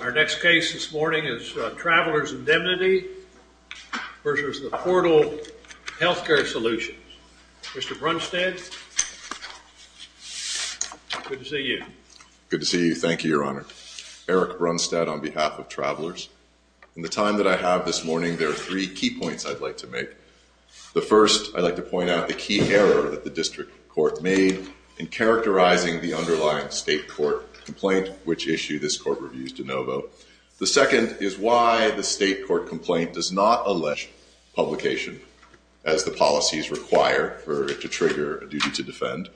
Our next case this morning is Travelers Indemnity versus the Portal Healthcare Solutions. Mr. Brunstad, good to see you. Good to see you. Thank you, Your Honor. Eric Brunstad on behalf of Travelers. In the time that I have this morning, there are three key points I'd like to make. The first, I'd like to point out the key error that the district court made in characterizing the underlying state court complaint which issued this court review's de novo. The second is why the state court complaint does not allege publication as the policies require for it to trigger a duty to defend.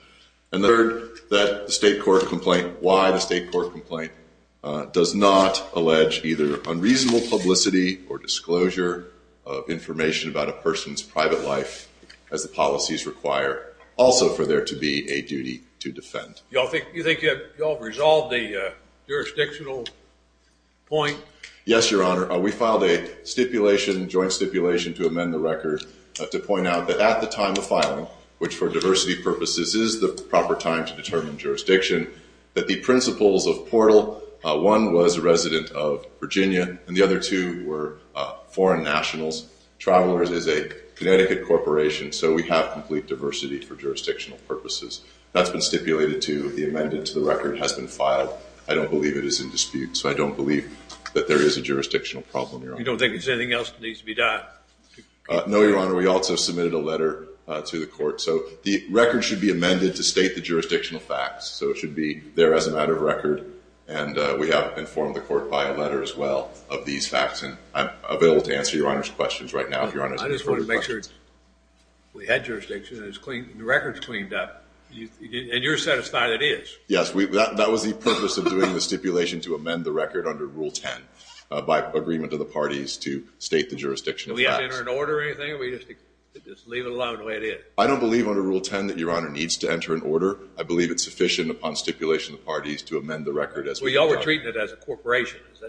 And the third, that the state court complaint, why the state court complaint does not allege either unreasonable publicity or disclosure of information about a person's private life as the policies require also for there to be a duty to defend. Do you think you have resolved the jurisdictional point? Yes, Your Honor. We filed a stipulation, joint stipulation to amend the record to point out that at the time of filing, which for diversity purposes is the proper time to determine jurisdiction, that the principals of Portal, one was a resident of Virginia and the other two were foreign nationals. Travelers is a Connecticut corporation, so we have complete diversity for jurisdictional purposes. That's been stipulated to the amendment to the record has been filed. I don't believe it is in dispute. So I don't believe that there is a jurisdictional problem, Your Honor. You don't think there's anything else that needs to be done? No, Your Honor. We also submitted a letter to the court. So the record should be amended to state the jurisdictional facts. So it should be there as a matter of record. And we have informed the court by a letter as well of these facts. And I'm available to answer Your Honor's questions right now. I just want to make sure we had jurisdiction and the record's cleaned up. And you're satisfied it is? Yes, that was the purpose of doing the stipulation to amend the record under Rule 10 by agreement of the parties to state the jurisdictional facts. Do we have to enter an order or anything? Or do we just leave it alone the way it is? I don't believe under Rule 10 that Your Honor needs to enter an order. I believe it's sufficient upon stipulation of the parties to amend the record as we've done. Well, y'all were treating it as a corporation. Is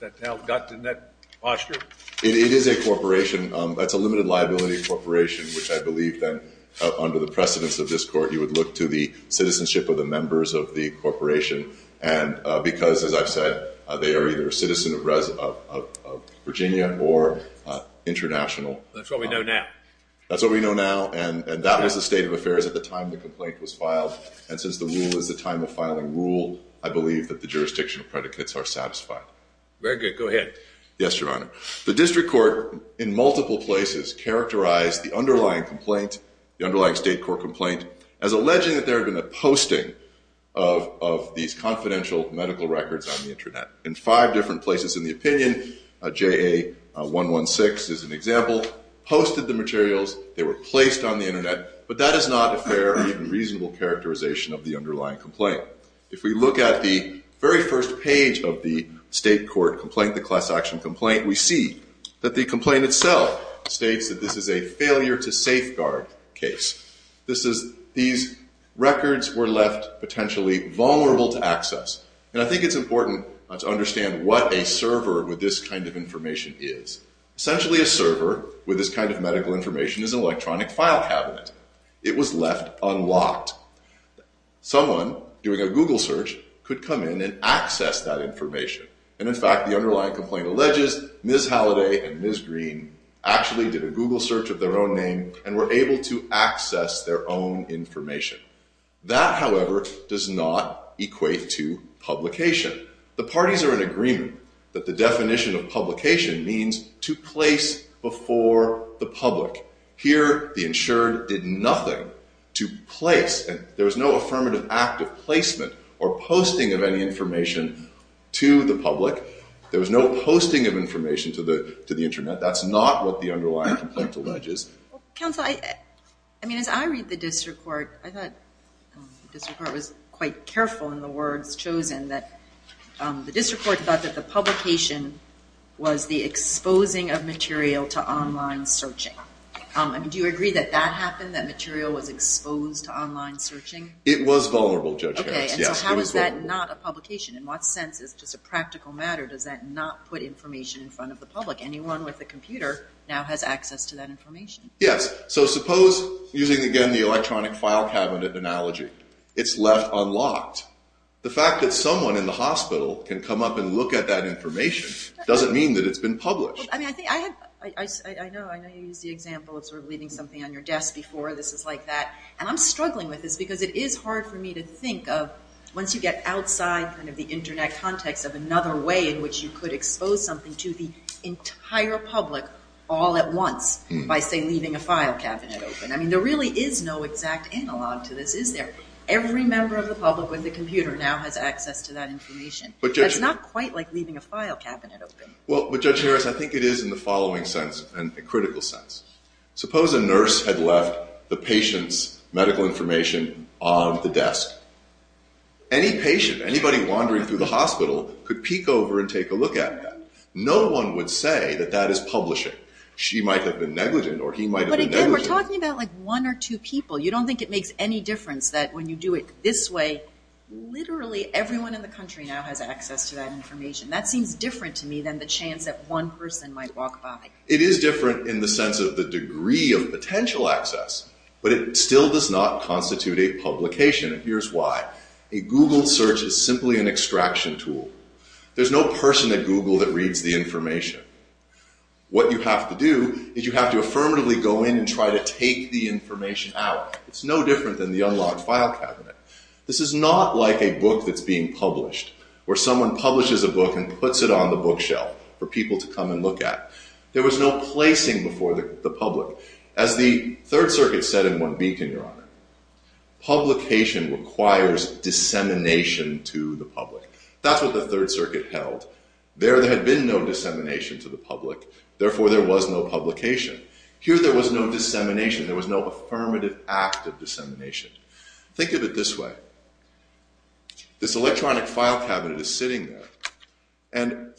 that how it got in that posture? It is a corporation. That's a limited liability corporation, which I believe that under the precedence of this court, you would look to the citizenship of the members of the corporation. And because, as I've said, they are either a citizen of Virginia or international. That's what we know now. That's what we know now. And that was the state of affairs at the time the complaint was filed. And since the rule is the time of filing rule, I believe that the jurisdictional predicates are satisfied. Very good. Go ahead. Yes, Your Honor. The district court in multiple places characterized the underlying complaint, the underlying state court complaint, as alleging that there had been a posting of these confidential medical records on the internet. In five different places in the opinion, JA-116 is an example, posted the materials. They were placed on the internet. But that is not a fair or even reasonable characterization of the underlying complaint. If we look at the very first page of the state court complaint, the class action complaint, we see that the complaint itself states that this is a failure to safeguard case. These records were left potentially vulnerable to access. And I think it's important to understand what a server with this kind of information is. Essentially, a server with this kind of medical information is an electronic file cabinet. It was left unlocked. Someone doing a Google search could come in and access that information. And in fact, the underlying complaint alleges Ms. Halliday and Ms. Green actually did a Google search of their own name and were able to access their own information. That, however, does not equate to publication. The parties are in agreement that the definition of publication means to place before the public. Here, the insured did nothing to place. There was no affirmative act of placement or posting of any information to the public. There was no posting of information to the internet. That's not what the underlying complaint alleges. Counsel, I mean, as I read the district court, I thought the district court was quite careful in the words chosen, that the district court thought that the publication was the exposing of material to online searching. Do you agree that that happened, that material was exposed to online searching? It was vulnerable, Judge Harris. Okay, and so how is that not a publication? In what sense is it just a practical matter? Does that not put information in front of the public? Anyone with a computer now has access to that information. Yes, so suppose, using again the electronic file cabinet analogy, it's left unlocked. The fact that someone in the hospital can come up and look at that information doesn't mean that it's been published. I know you used the example of sort of leaving something on your desk before, this is like that, and I'm struggling with this because it is hard for me to think of, once you get outside kind of the Internet context of another way in which you could expose something to the entire public all at once by, say, leaving a file cabinet open. I mean, there really is no exact analog to this, is there? Every member of the public with a computer now has access to that information. That's not quite like leaving a file cabinet open. Well, but Judge Harris, I think it is in the following sense, and a critical sense. Suppose a nurse had left the patient's medical information on the desk. Any patient, anybody wandering through the hospital, could peek over and take a look at that. No one would say that that is publishing. She might have been negligent or he might have been negligent. But again, we're talking about like one or two people. You don't think it makes any difference that when you do it this way, literally everyone in the country now has access to that information. That seems different to me than the chance that one person might walk by. It is different in the sense of the degree of potential access, but it still does not constitute a publication, and here's why. A Google search is simply an extraction tool. There's no person at Google that reads the information. What you have to do is you have to affirmatively go in and try to take the information out. It's no different than the unlocked file cabinet. This is not like a book that's being published, where someone publishes a book and puts it on the bookshelf for people to come and look at. There was no placing before the public. As the Third Circuit said in One Beacon, Your Honor, publication requires dissemination to the public. That's what the Third Circuit held. There had been no dissemination to the public, therefore there was no publication. Here there was no dissemination. There was no affirmative act of dissemination. Think of it this way. This electronic file cabinet is sitting there, and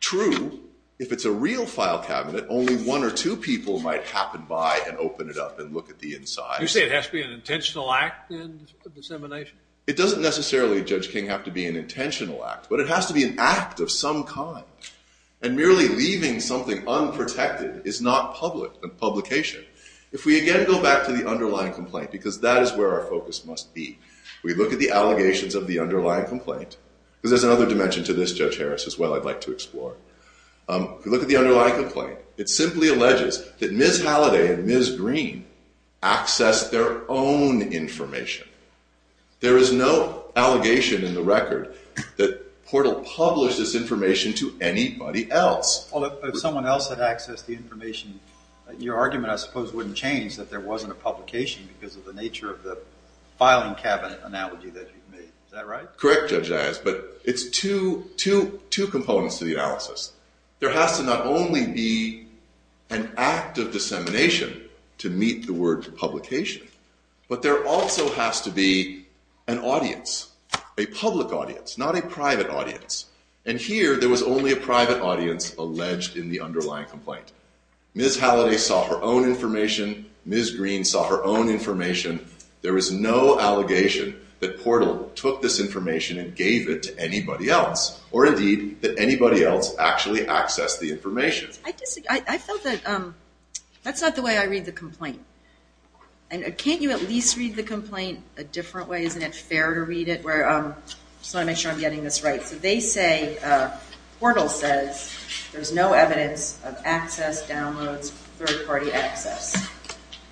true, if it's a real file cabinet, only one or two people might happen by and open it up and look at the inside. You say it has to be an intentional act of dissemination? It doesn't necessarily, Judge King, have to be an intentional act, but it has to be an act of some kind, and merely leaving something unprotected is not publication. If we again go back to the underlying complaint, because that is where our focus must be, we look at the allegations of the underlying complaint, because there's another dimension to this, Judge Harris, as well I'd like to explore. If we look at the underlying complaint, it simply alleges that Ms. Halliday and Ms. Green accessed their own information. There is no allegation in the record that Portal published this information to anybody else. Well, if someone else had accessed the information, your argument, I suppose, wouldn't change that there wasn't a publication because of the nature of the filing cabinet analogy that you've made. Is that right? Correct, Judge Harris, but it's two components to the analysis. There has to not only be an act of dissemination to meet the word publication, but there also has to be an audience, a public audience, not a private audience, and here there was only a private audience alleged in the underlying complaint. Ms. Halliday saw her own information. Ms. Green saw her own information. There is no allegation that Portal took this information and gave it to anybody else, or indeed that anybody else actually accessed the information. I feel that that's not the way I read the complaint. Can't you at least read the complaint a different way? Isn't it fair to read it? I just want to make sure I'm getting this right. So they say, Portal says, there's no evidence of access, downloads, third-party access,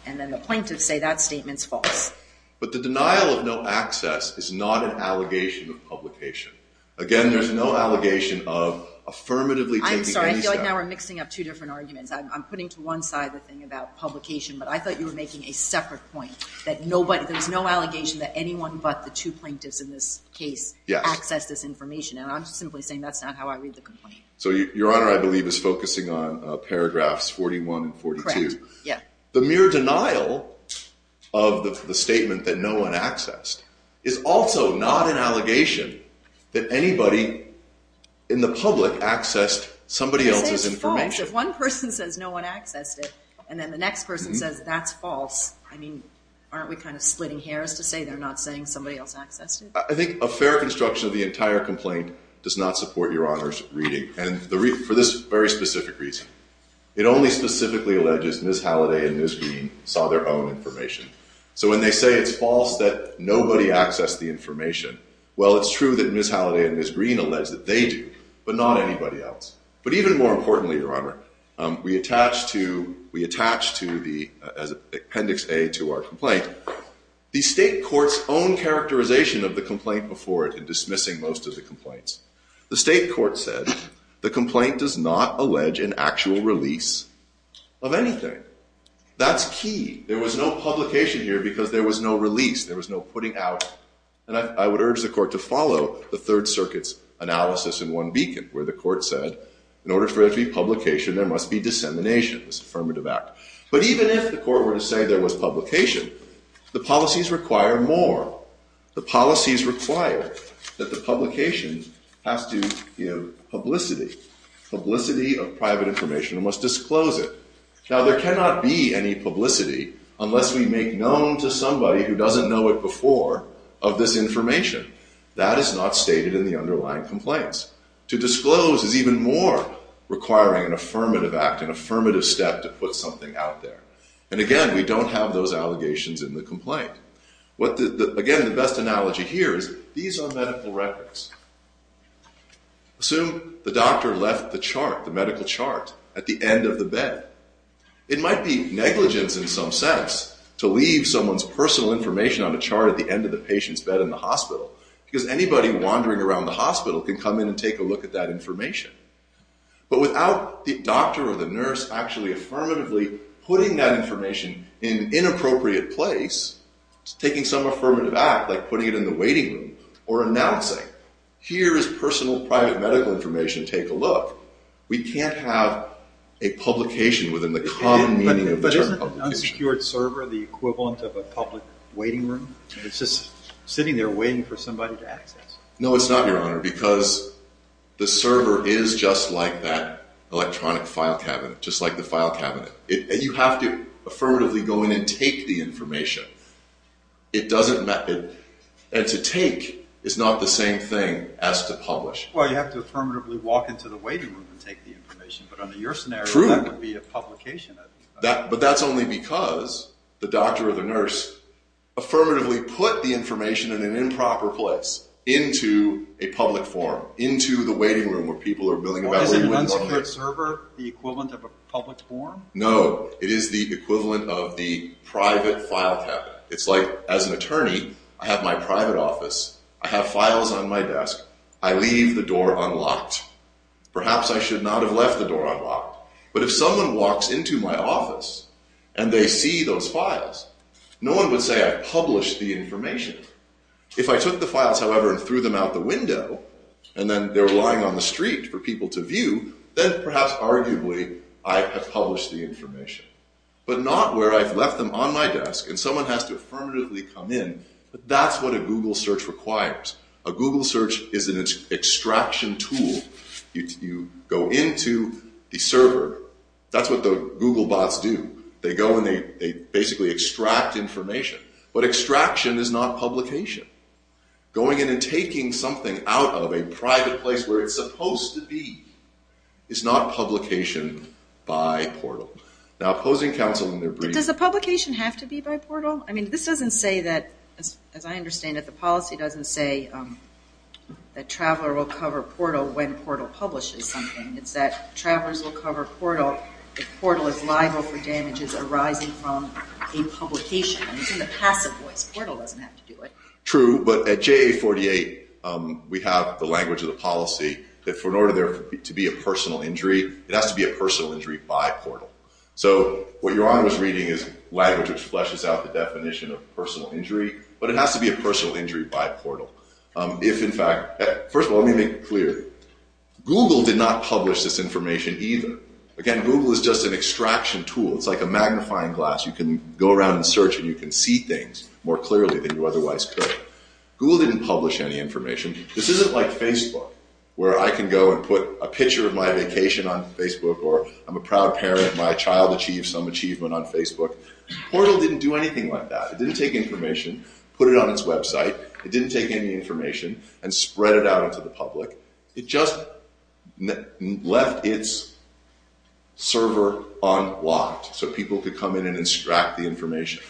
and then the plaintiffs say that statement's false. But the denial of no access is not an allegation of publication. Again, there's no allegation of affirmatively taking any stuff. I'm sorry, I feel like now we're mixing up two different arguments. I'm putting to one side the thing about publication, but I thought you were making a separate point that there's no allegation that anyone but the two plaintiffs in this case accessed this information, and I'm simply saying that's not how I read the complaint. So Your Honor, I believe, is focusing on paragraphs 41 and 42. The mere denial of the statement that no one accessed is also not an allegation that anybody in the public accessed somebody else's information. If one person says no one accessed it, and then the next person says that's false, I mean, aren't we kind of splitting hairs to say they're not saying somebody else accessed it? I think a fair construction of the entire complaint does not support Your Honor's reading, and for this very specific reason. It only specifically alleges Ms. Halliday and Ms. Green saw their own information. So when they say it's false that nobody accessed the information, well, it's true that Ms. Halliday and Ms. Green alleged that they did, but not anybody else. But even more importantly, Your Honor, we attach to the appendix A to our complaint, the state court's own characterization of the complaint before it in dismissing most of the complaints. The state court said the complaint does not allege an actual release of anything. That's key. There was no publication here because there was no release. There was no putting out. And I would urge the court to follow the Third Circuit's analysis in one beacon, where the court said in order for there to be publication, there must be dissemination, this affirmative act. But even if the court were to say there was publication, the policies require more. The policies require that the publication has to, you know, publicity. Publicity of private information must disclose it. Now, there cannot be any publicity unless we make known to somebody who doesn't know it before of this information. That is not stated in the underlying complaints. To disclose is even more requiring an affirmative act, an affirmative step to put something out there. And again, we don't have those allegations in the complaint. Again, the best analogy here is these are medical records. Assume the doctor left the chart, the medical chart, at the end of the bed. It might be negligence in some sense to leave someone's personal information on a chart at the end of the patient's bed in the hospital because anybody wandering around the hospital can come in and take a look at that information. But without the doctor or the nurse actually affirmatively putting that information in an inappropriate place, taking some affirmative act like putting it in the waiting room or announcing, here is personal private medical information. Take a look. We can't have a publication within the common meaning of the term publication. But isn't an unsecured server the equivalent of a public waiting room? It's just sitting there waiting for somebody to access. No, it's not, Your Honor, because the server is just like that electronic file cabinet, just like the file cabinet. You have to affirmatively go in and take the information. It doesn't matter. And to take is not the same thing as to publish. Well, you have to affirmatively walk into the waiting room and take the information. But under your scenario, that would be a publication. But that's only because the doctor or the nurse affirmatively put the information in an improper place, into a public forum, into the waiting room where people are building about where you wouldn't want to be. Isn't an unsecured server the equivalent of a public forum? No, it is the equivalent of the private file cabinet. It's like as an attorney, I have my private office. I have files on my desk. I leave the door unlocked. Perhaps I should not have left the door unlocked. But if someone walks into my office and they see those files, no one would say I published the information. If I took the files, however, and threw them out the window, and then they're lying on the street for people to view, then perhaps, arguably, I have published the information. But not where I've left them on my desk and someone has to affirmatively come in. But that's what a Google search requires. A Google search is an extraction tool. You go into the server. That's what the Google bots do. They go and they basically extract information. But extraction is not publication. Going in and taking something out of a private place where it's supposed to be is not publication by portal. Now, opposing counsel in their brief. Does the publication have to be by portal? I mean, this doesn't say that, as I understand it, the policy doesn't say that traveler will cover portal when portal publishes something. It's that travelers will cover portal if portal is liable for damages arising from a publication. It's in the passive voice. Portal doesn't have to do it. True. But at JA48, we have the language of the policy that in order for there to be a personal injury, it has to be a personal injury by portal. So what you're on with reading is language which fleshes out the definition of personal injury. But it has to be a personal injury by portal. If, in fact, first of all, let me make it clear. Google did not publish this information either. Again, Google is just an extraction tool. It's like a magnifying glass. You can go around and search and you can see things more clearly than you otherwise could. Google didn't publish any information. This isn't like Facebook where I can go and put a picture of my vacation on Facebook or I'm a proud parent. My child achieved some achievement on Facebook. Portal didn't do anything like that. It didn't take information, put it on its website. It didn't take any information and spread it out into the public. It just left its server unlocked so people could come in and extract the information.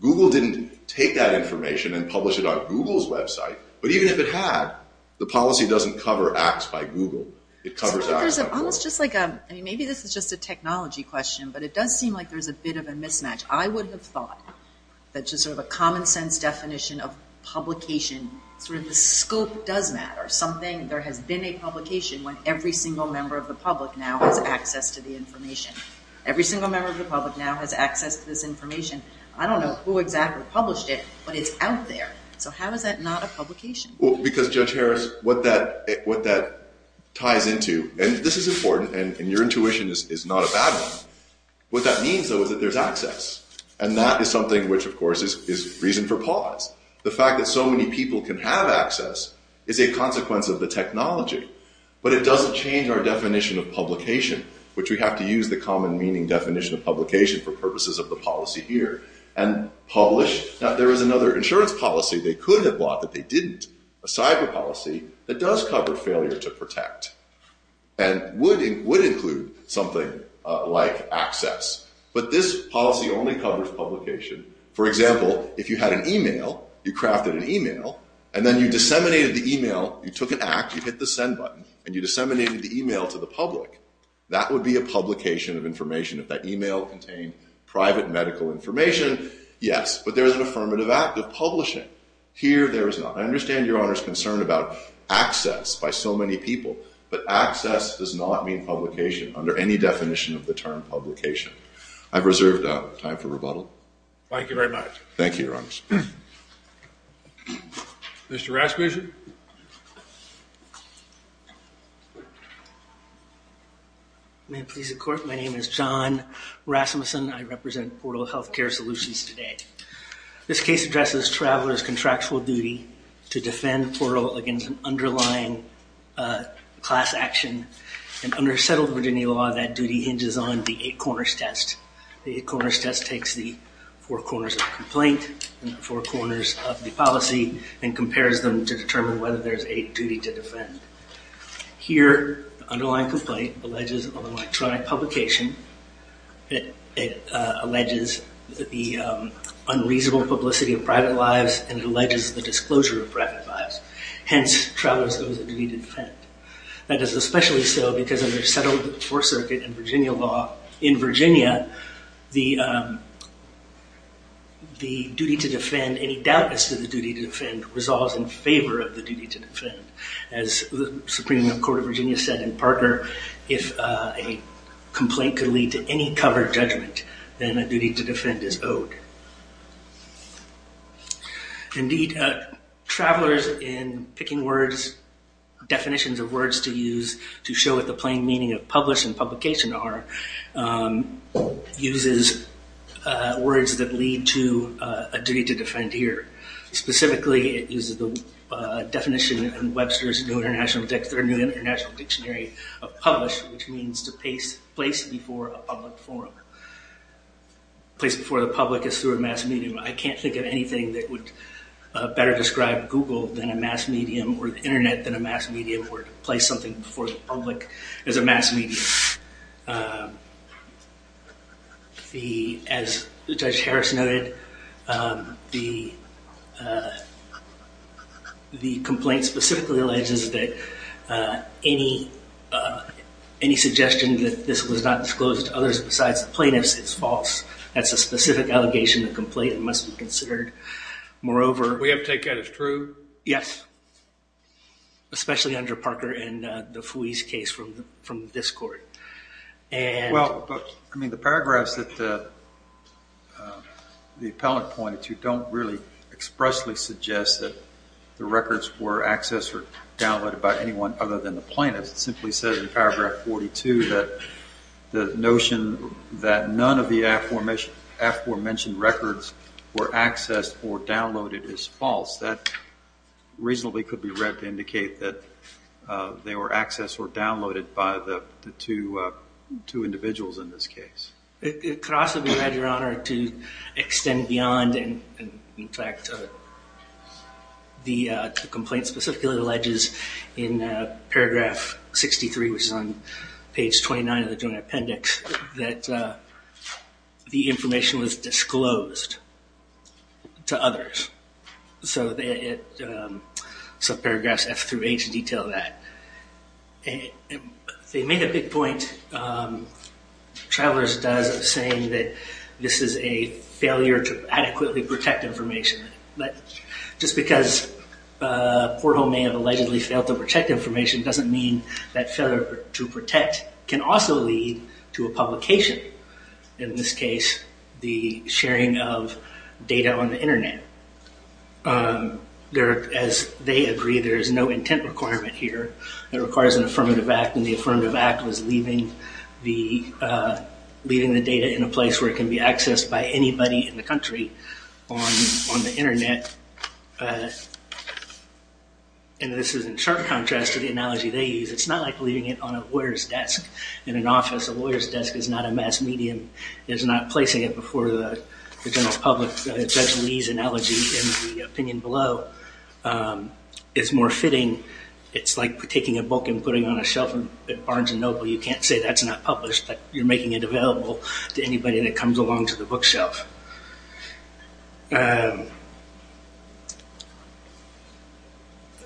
Google didn't take that information and publish it on Google's website. But even if it had, the policy doesn't cover apps by Google. It covers apps by Google. Maybe this is just a technology question, but it does seem like there's a bit of a mismatch. I would have thought that just sort of a common sense definition of publication, sort of the scope does matter. Something there has been a publication when every single member of the public now has access to the information. Every single member of the public now has access to this information. I don't know who exactly published it, but it's out there. So how is that not a publication? Because, Judge Harris, what that ties into, and this is important, and your intuition is not a bad one, what that means, though, is that there's access. And that is something which, of course, is reason for pause. The fact that so many people can have access is a consequence of the technology. But it doesn't change our definition of publication, which we have to use the common meaning definition of publication for purposes of the policy here. And publish, now there is another insurance policy they could have bought that they didn't, a cyber policy, that does cover failure to protect and would include something like access. But this policy only covers publication. For example, if you had an email, you crafted an email, and then you disseminated the email, you took an act, you hit the send button, and you disseminated the email to the public, that would be a publication of information. If that email contained private medical information, yes. But there is an affirmative act of publishing. Here, there is not. I understand Your Honor's concern about access by so many people, but access does not mean publication under any definition of the term publication. I've reserved time for rebuttal. Thank you very much. Thank you, Your Honors. Mr. Rasmussen? Thank you, Your Honor. May it please the Court, my name is John Rasmussen. I represent Portal Health Care Solutions today. This case addresses traveler's contractual duty to defend Portal against an underlying class action. In undersettled Virginia law, that duty hinges on the eight corners test. The eight corners test takes the four corners of the complaint and the four corners of the policy and compares them to determine whether there is a duty to defend. Here, the underlying complaint alleges an electronic publication. It alleges the unreasonable publicity of private lives, and it alleges the disclosure of private lives. Hence, travelers owe the duty to defend. That is especially so because of the unsettled Fourth Circuit and Virginia law. In Virginia, the duty to defend, any doubtness of the duty to defend, resolves in favor of the duty to defend. As the Supreme Court of Virginia said in Parker, if a complaint could lead to any covered judgment, Indeed, travelers in picking words, definitions of words to use to show what the plain meaning of publish and publication are, uses words that lead to a duty to defend here. Specifically, it uses the definition in Webster's New International Dictionary of publish, which means to place before a public forum. Place before the public is through a mass medium. I can't think of anything that would better describe Google than a mass medium or the Internet than a mass medium or to place something before the public as a mass medium. As Judge Harris noted, the complaint specifically alleges that any suggestion that this was not disclosed to others besides the plaintiffs is false. That's a specific allegation of the complaint and must be considered. Moreover, We have to take that as true? Yes. Especially under Parker and the Fuis case from this court. Well, I mean, the paragraphs that the appellant pointed to don't really expressly suggest that the records were accessed or downloaded by anyone other than the plaintiffs. It simply says in paragraph 42 that the notion that none of the aforementioned records were accessed or downloaded is false. That reasonably could be read to indicate that they were accessed or downloaded by the two individuals in this case. It could also be read, Your Honor, to extend beyond. In fact, the complaint specifically alleges in paragraph 63, which is on page 29 of the Joint Appendix, that the information was disclosed to others. So paragraphs F through H detail that. They make a big point, Travelers does, saying that this is a failure to adequately protect information. But just because Portho may have allegedly failed to protect information doesn't mean that failure to protect can also lead to a publication. In this case, the sharing of data on the Internet. As they agree, there is no intent requirement here. It requires an affirmative act, and the affirmative act was leaving the data in a place where it can be accessed by anybody in the country on the Internet. And this is in sharp contrast to the analogy they use. It's not like leaving it on a lawyer's desk in an office. A lawyer's desk is not a mass medium. It's not placing it before the general public. Judge Lee's analogy in the opinion below is more fitting. It's like taking a book and putting it on a shelf at Barnes & Noble. You can't say that's not published, but you're making it available to anybody that comes along to the bookshelf.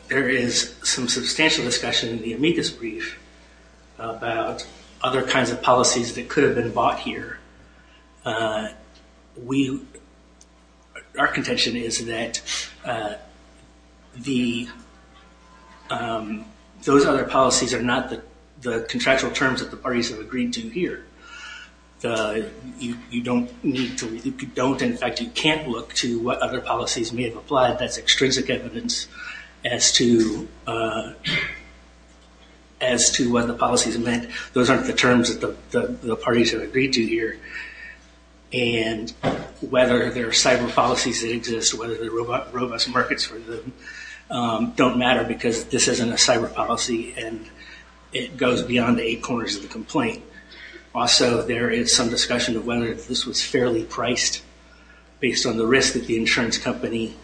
There is some substantial discussion in the amicus brief about other kinds of policies that could have been bought here. Our contention is that those other policies are not the contractual terms that the parties have agreed to here. In fact, you can't look to what other policies may have applied. That's extrinsic evidence as to what the policies meant. Those aren't the terms that the parties have agreed to here. And whether there are cyber policies that exist, whether there are robust markets for them, don't matter because this isn't a cyber policy and it goes beyond the eight corners of the complaint. Also, there is some discussion of whether this was fairly priced based on the risk that the insurance company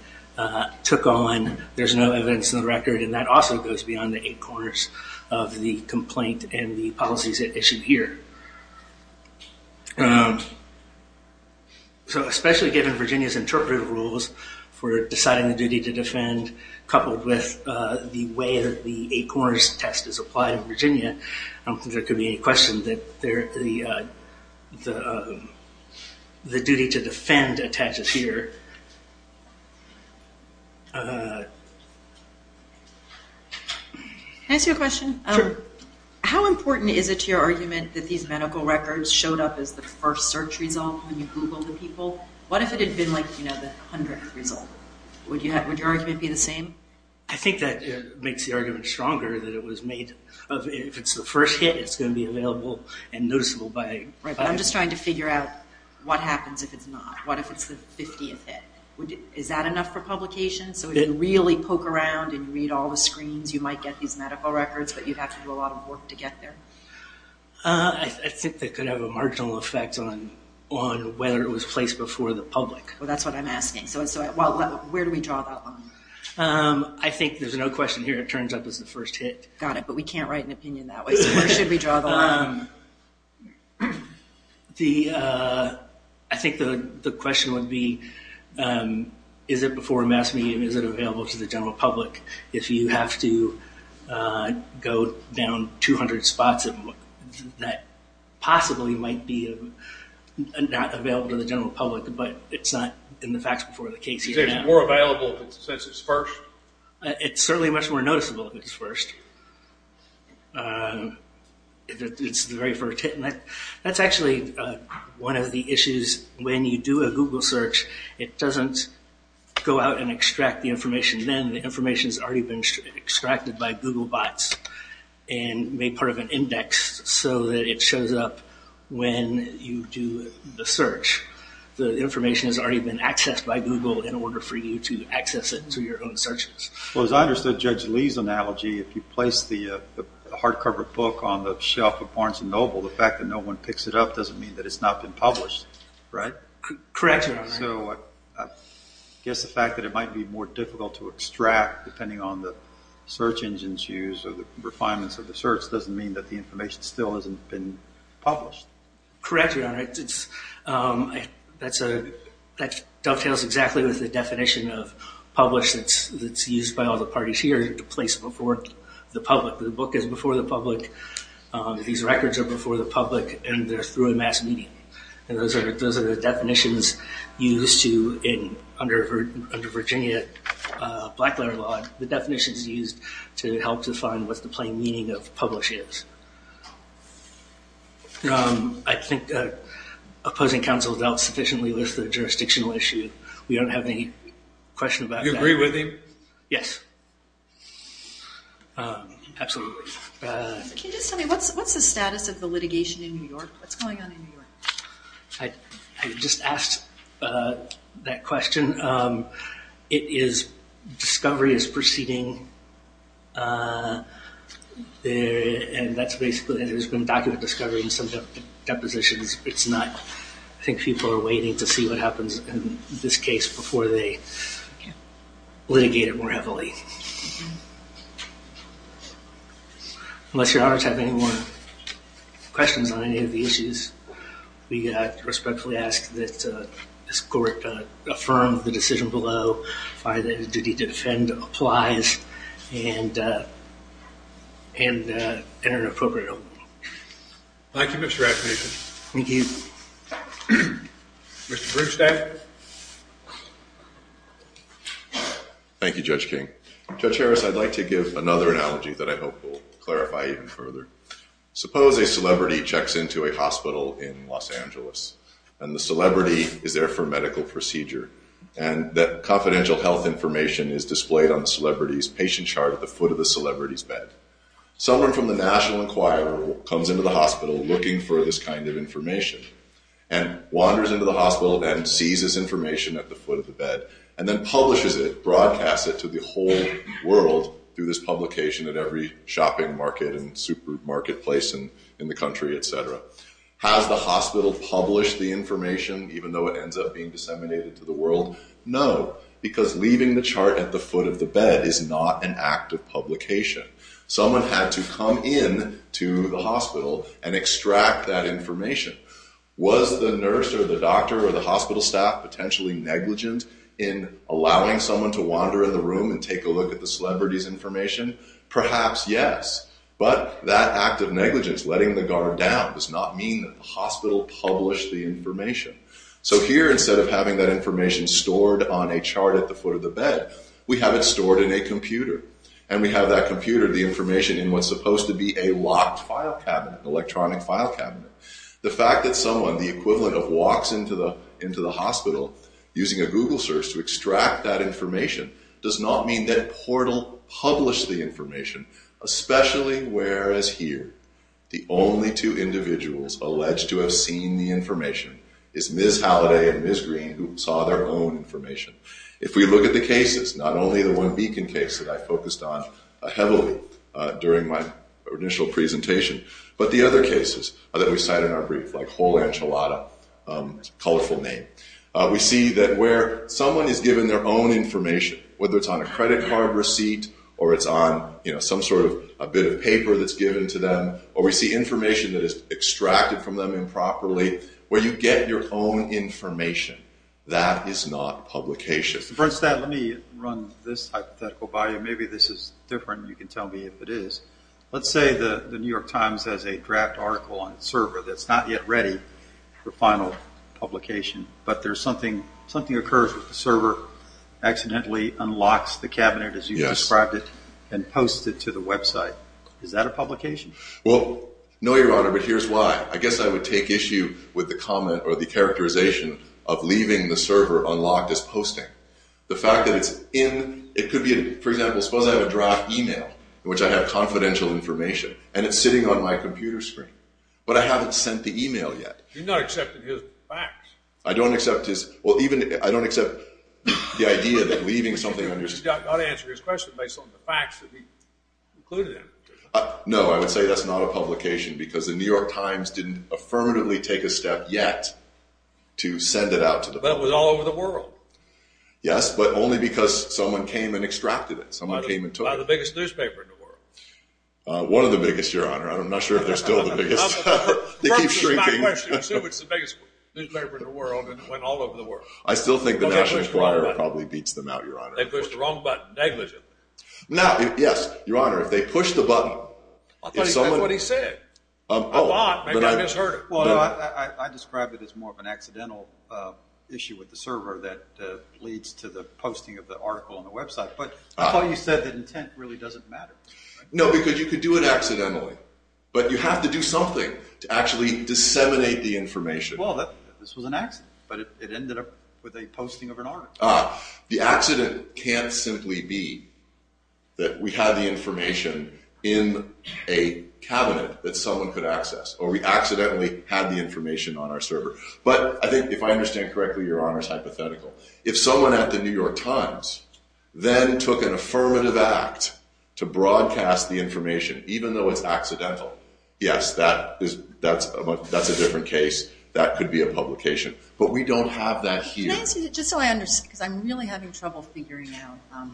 took on. There's no evidence in the record, and that also goes beyond the eight corners of the complaint and the policies issued here. Especially given Virginia's interpretive rules for deciding the duty to defend, coupled with the way that the eight corners test is applied in Virginia, I don't think there could be any question that the duty to defend attaches here. Can I ask you a question? Sure. How important is it to your argument that these medical records showed up as the first search result when you Googled the people? What if it had been the hundredth result? Would your argument be the same? I think that makes the argument stronger, that if it's the first hit, it's going to be available and noticeable. Right, but I'm just trying to figure out what happens if it's not. What if it's the 50th hit? Is that enough for publication? So if you really poke around and read all the screens, you might get these medical records, but you'd have to do a lot of work to get there? I think that could have a marginal effect on whether it was placed before the public. Well, that's what I'm asking. Where do we draw that line? I think there's no question here. It turns out it was the first hit. Got it, but we can't write an opinion that way, so where should we draw the line? I think the question would be, is it before a mass meeting? Is it available to the general public? If you have to go down 200 spots, it possibly might be not available to the general public, but it's not in the facts before the case. Is it more available if it's first? It's certainly much more noticeable if it's first. It's the very first hit. That's actually one of the issues. When you do a Google search, it doesn't go out and extract the information then. The information has already been extracted by Google bots and made part of an index so that it shows up when you do the search. The information has already been accessed by Google in order for you to access it through your own searches. Well, as I understood Judge Lee's analogy, if you place the hardcover book on the shelf of Barnes & Noble, the fact that no one picks it up doesn't mean that it's not been published, right? Correct, Your Honor. So I guess the fact that it might be more difficult to extract depending on the search engines used or the refinements of the search doesn't mean that the information still hasn't been published. Correct, Your Honor. That dovetails exactly with the definition of publish that's used by all the parties here, to place it before the public. The book is before the public. These records are before the public, and they're through a mass media. Those are the definitions used under Virginia blackletter law, the definitions used to help define what the plain meaning of publish is. I think opposing counsel has out-sufficiently listed a jurisdictional issue. We don't have any question about that. You agree with him? Yes, absolutely. Can you just tell me what's the status of the litigation in New York? What's going on in New York? I just asked that question. Discovery is proceeding, and there's been document discovery in some depositions. It's not. I think people are waiting to see what happens in this case before they litigate it more heavily. Unless Your Honor has any more questions on any of the issues, we respectfully ask that this court affirm the decision below, find that a duty to defend applies, and enter an appropriate overruling. Thank you, Mr. Raffnation. Thank you. Mr. Bruchstein. Thank you, Judge King. Judge Harris, I'd like to give another analogy that I hope will clarify even further. Suppose a celebrity checks into a hospital in Los Angeles, and the celebrity is there for a medical procedure, and that confidential health information is displayed on the celebrity's patient chart at the foot of the celebrity's bed. Someone from the National Enquirer comes into the hospital looking for this kind of information, and wanders into the hospital and sees this information at the foot of the bed, and then publishes it, broadcasts it to the whole world through this publication at every shopping market and supermarket place in the country, et cetera. Has the hospital published the information, even though it ends up being disseminated to the world? No, because leaving the chart at the foot of the bed is not an act of publication. Someone had to come into the hospital and extract that information. Was the nurse or the doctor or the hospital staff potentially negligent in allowing someone to wander in the room and take a look at the celebrity's information? Perhaps, yes, but that act of negligence, letting the guard down, does not mean that the hospital published the information. So here, instead of having that information stored on a chart at the foot of the bed, we have it stored in a computer, and we have that computer, the information, in what's supposed to be a locked file cabinet, electronic file cabinet. The fact that someone, the equivalent of walks into the hospital, using a Google search to extract that information, does not mean that Portal published the information, especially whereas here, the only two individuals alleged to have seen the information is Ms. Halliday and Ms. Green, who saw their own information. If we look at the cases, not only the one Beacon case that I focused on heavily during my initial presentation, but the other cases that we cite in our brief, like Whole Enchilada, a colorful name, we see that where someone is given their own information, whether it's on a credit card receipt or it's on some sort of a bit of paper that's given to them, or we see information that is extracted from them improperly, where you get your own information, that is not publication. First, let me run this hypothetical by you. Maybe this is different, and you can tell me if it is. Let's say the New York Times has a draft article on its server that's not yet ready for final publication, but something occurs with the server, accidentally unlocks the cabinet as you described it, and posts it to the website. Is that a publication? Well, no, Your Honor, but here's why. I guess I would take issue with the comment or the characterization of leaving the server unlocked as posting. The fact that it's in, it could be, for example, suppose I have a draft email in which I have confidential information, and it's sitting on my computer screen, but I haven't sent the email yet. You're not accepting his facts. I don't accept his, well, even, I don't accept the idea that leaving something on your... You've got to answer his question based on the facts that he included in it. No, I would say that's not a publication because the New York Times didn't affirmatively take a step yet to send it out to the... But it was all over the world. Yes, but only because someone came and extracted it. Someone came and took it. By the biggest newspaper in the world. One of the biggest, Your Honor. I'm not sure if they're still the biggest. They keep shrinking. First is my question. It's the biggest newspaper in the world, and it went all over the world. I still think the National Enquirer probably beats them out, Your Honor. They pushed the wrong button negligently. Now, yes, Your Honor, if they push the button... I thought he said what he said. I thought. Maybe I misheard it. Well, I described it as more of an accidental issue with the server that leads to the posting of the article on the website. But I thought you said that intent really doesn't matter. No, because you could do it accidentally. But you have to do something to actually disseminate the information. Well, this was an accident, but it ended up with a posting of an article. The accident can't simply be that we had the information in a cabinet that someone could access, or we accidentally had the information on our server. But I think if I understand correctly, Your Honor, it's hypothetical. If someone at the New York Times then took an affirmative act to broadcast the information, even though it's accidental, yes, that's a different case. That could be a publication. But we don't have that here. Just so I understand, because I'm really having trouble figuring out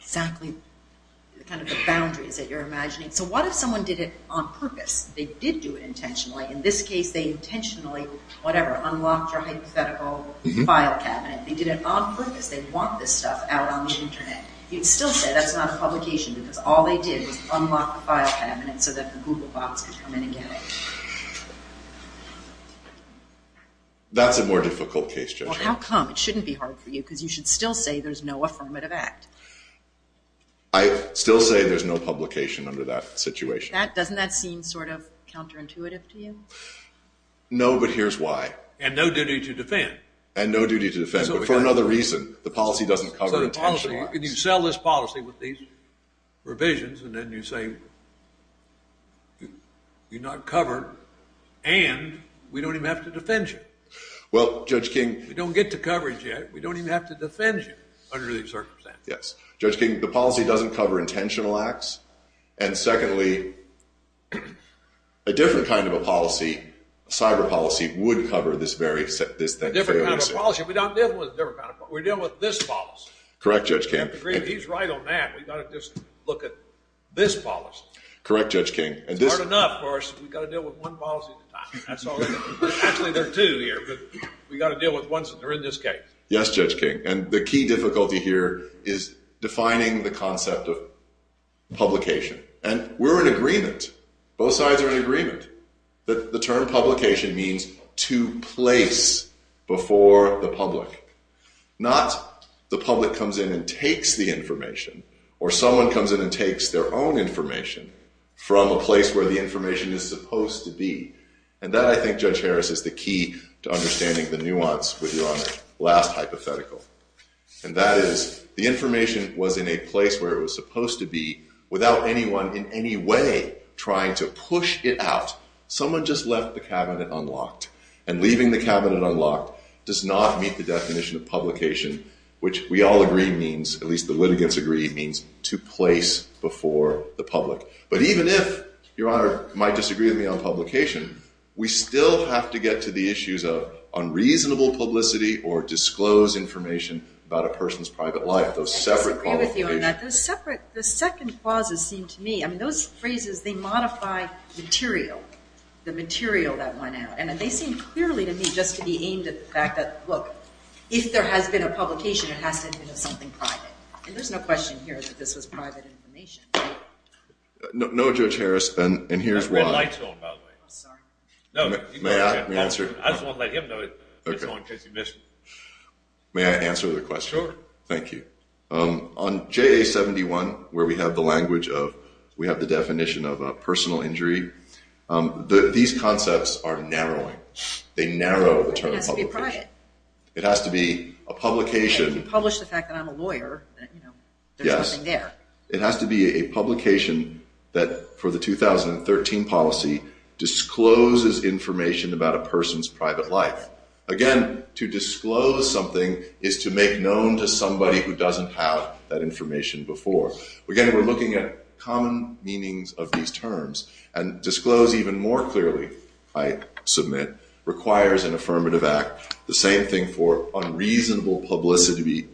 exactly the kind of boundaries that you're imagining. So what if someone did it on purpose? They did do it intentionally. In this case, they intentionally, whatever, unlocked your hypothetical file cabinet. They did it on purpose. They want this stuff out on the Internet. You'd still say that's not a publication because all they did was unlock the file cabinet so that the Google box could come in and get it. That's a more difficult case, Judge. Well, how come? It shouldn't be hard for you because you should still say there's no affirmative act. I still say there's no publication under that situation. Doesn't that seem sort of counterintuitive to you? No, but here's why. And no duty to defend. And no duty to defend, but for another reason. The policy doesn't cover intentional acts. You sell this policy with these revisions, and then you say you're not covered, and we don't even have to defend you. Well, Judge King. We don't get to coverage yet. We don't even have to defend you under these circumstances. Yes. Judge King, the policy doesn't cover intentional acts. And secondly, a different kind of a policy, cyber policy, would cover this thing fairly soon. A different kind of a policy. We're dealing with this policy. Correct, Judge King. He's right on that. We've got to just look at this policy. Correct, Judge King. It's hard enough for us. We've got to deal with one policy at a time. Actually, there are two here, but we've got to deal with ones that are in this case. Yes, Judge King. And the key difficulty here is defining the concept of publication. And we're in agreement. Both sides are in agreement that the term publication means to place before the public. Not the public comes in and takes the information, or someone comes in and takes their own information from a place where the information is supposed to be. And that, I think, Judge Harris, is the key to understanding the nuance with your last hypothetical. And that is, the information was in a place where it was supposed to be, without anyone in any way trying to push it out. Someone just left the cabinet unlocked. And leaving the cabinet unlocked does not meet the definition of publication, which we all agree means, at least the litigants agree, means to place before the public. But even if Your Honor might disagree with me on publication, we still have to get to the issues of unreasonable publicity or disclose information about a person's private life, those separate qualifications. I disagree with you on that. The second clauses seem to me, I mean, those phrases, they modify material, the material that went out. And they seem clearly to me just to be aimed at the fact that, look, if there has been a publication, it has to have been of something private. And there's no question here that this was private information. No, Judge Harris, and here's why. You've got red lights on, by the way. I'm sorry. May I answer? I just want to let him know it's on in case he missed me. May I answer the question? Sure. Thank you. On JA71, where we have the language of, we have the definition of a personal injury, these concepts are narrowing. They narrow the term of publication. It has to be private. It has to be a publication. If you publish the fact that I'm a lawyer, you know, there's nothing there. Yes. It has to be a publication that, for the 2013 policy, discloses information about a person's private life. Again, to disclose something is to make known to somebody who doesn't have that information before. Again, we're looking at common meanings of these terms. And disclose even more clearly, I submit, requires an affirmative act. The same thing for unreasonable publicity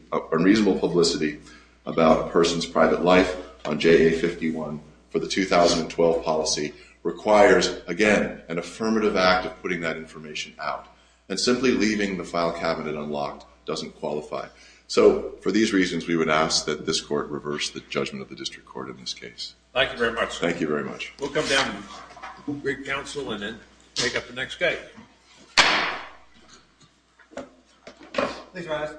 about a person's private life on JA51 for the 2012 policy requires, again, an affirmative act of putting that information out. And simply leaving the file cabinet unlocked doesn't qualify. So, for these reasons, we would ask that this court reverse the judgment of the district court in this case. Thank you very much, sir. Thank you very much. We'll come down to Boone Creek Council and then take up the next case. Thanks, guys.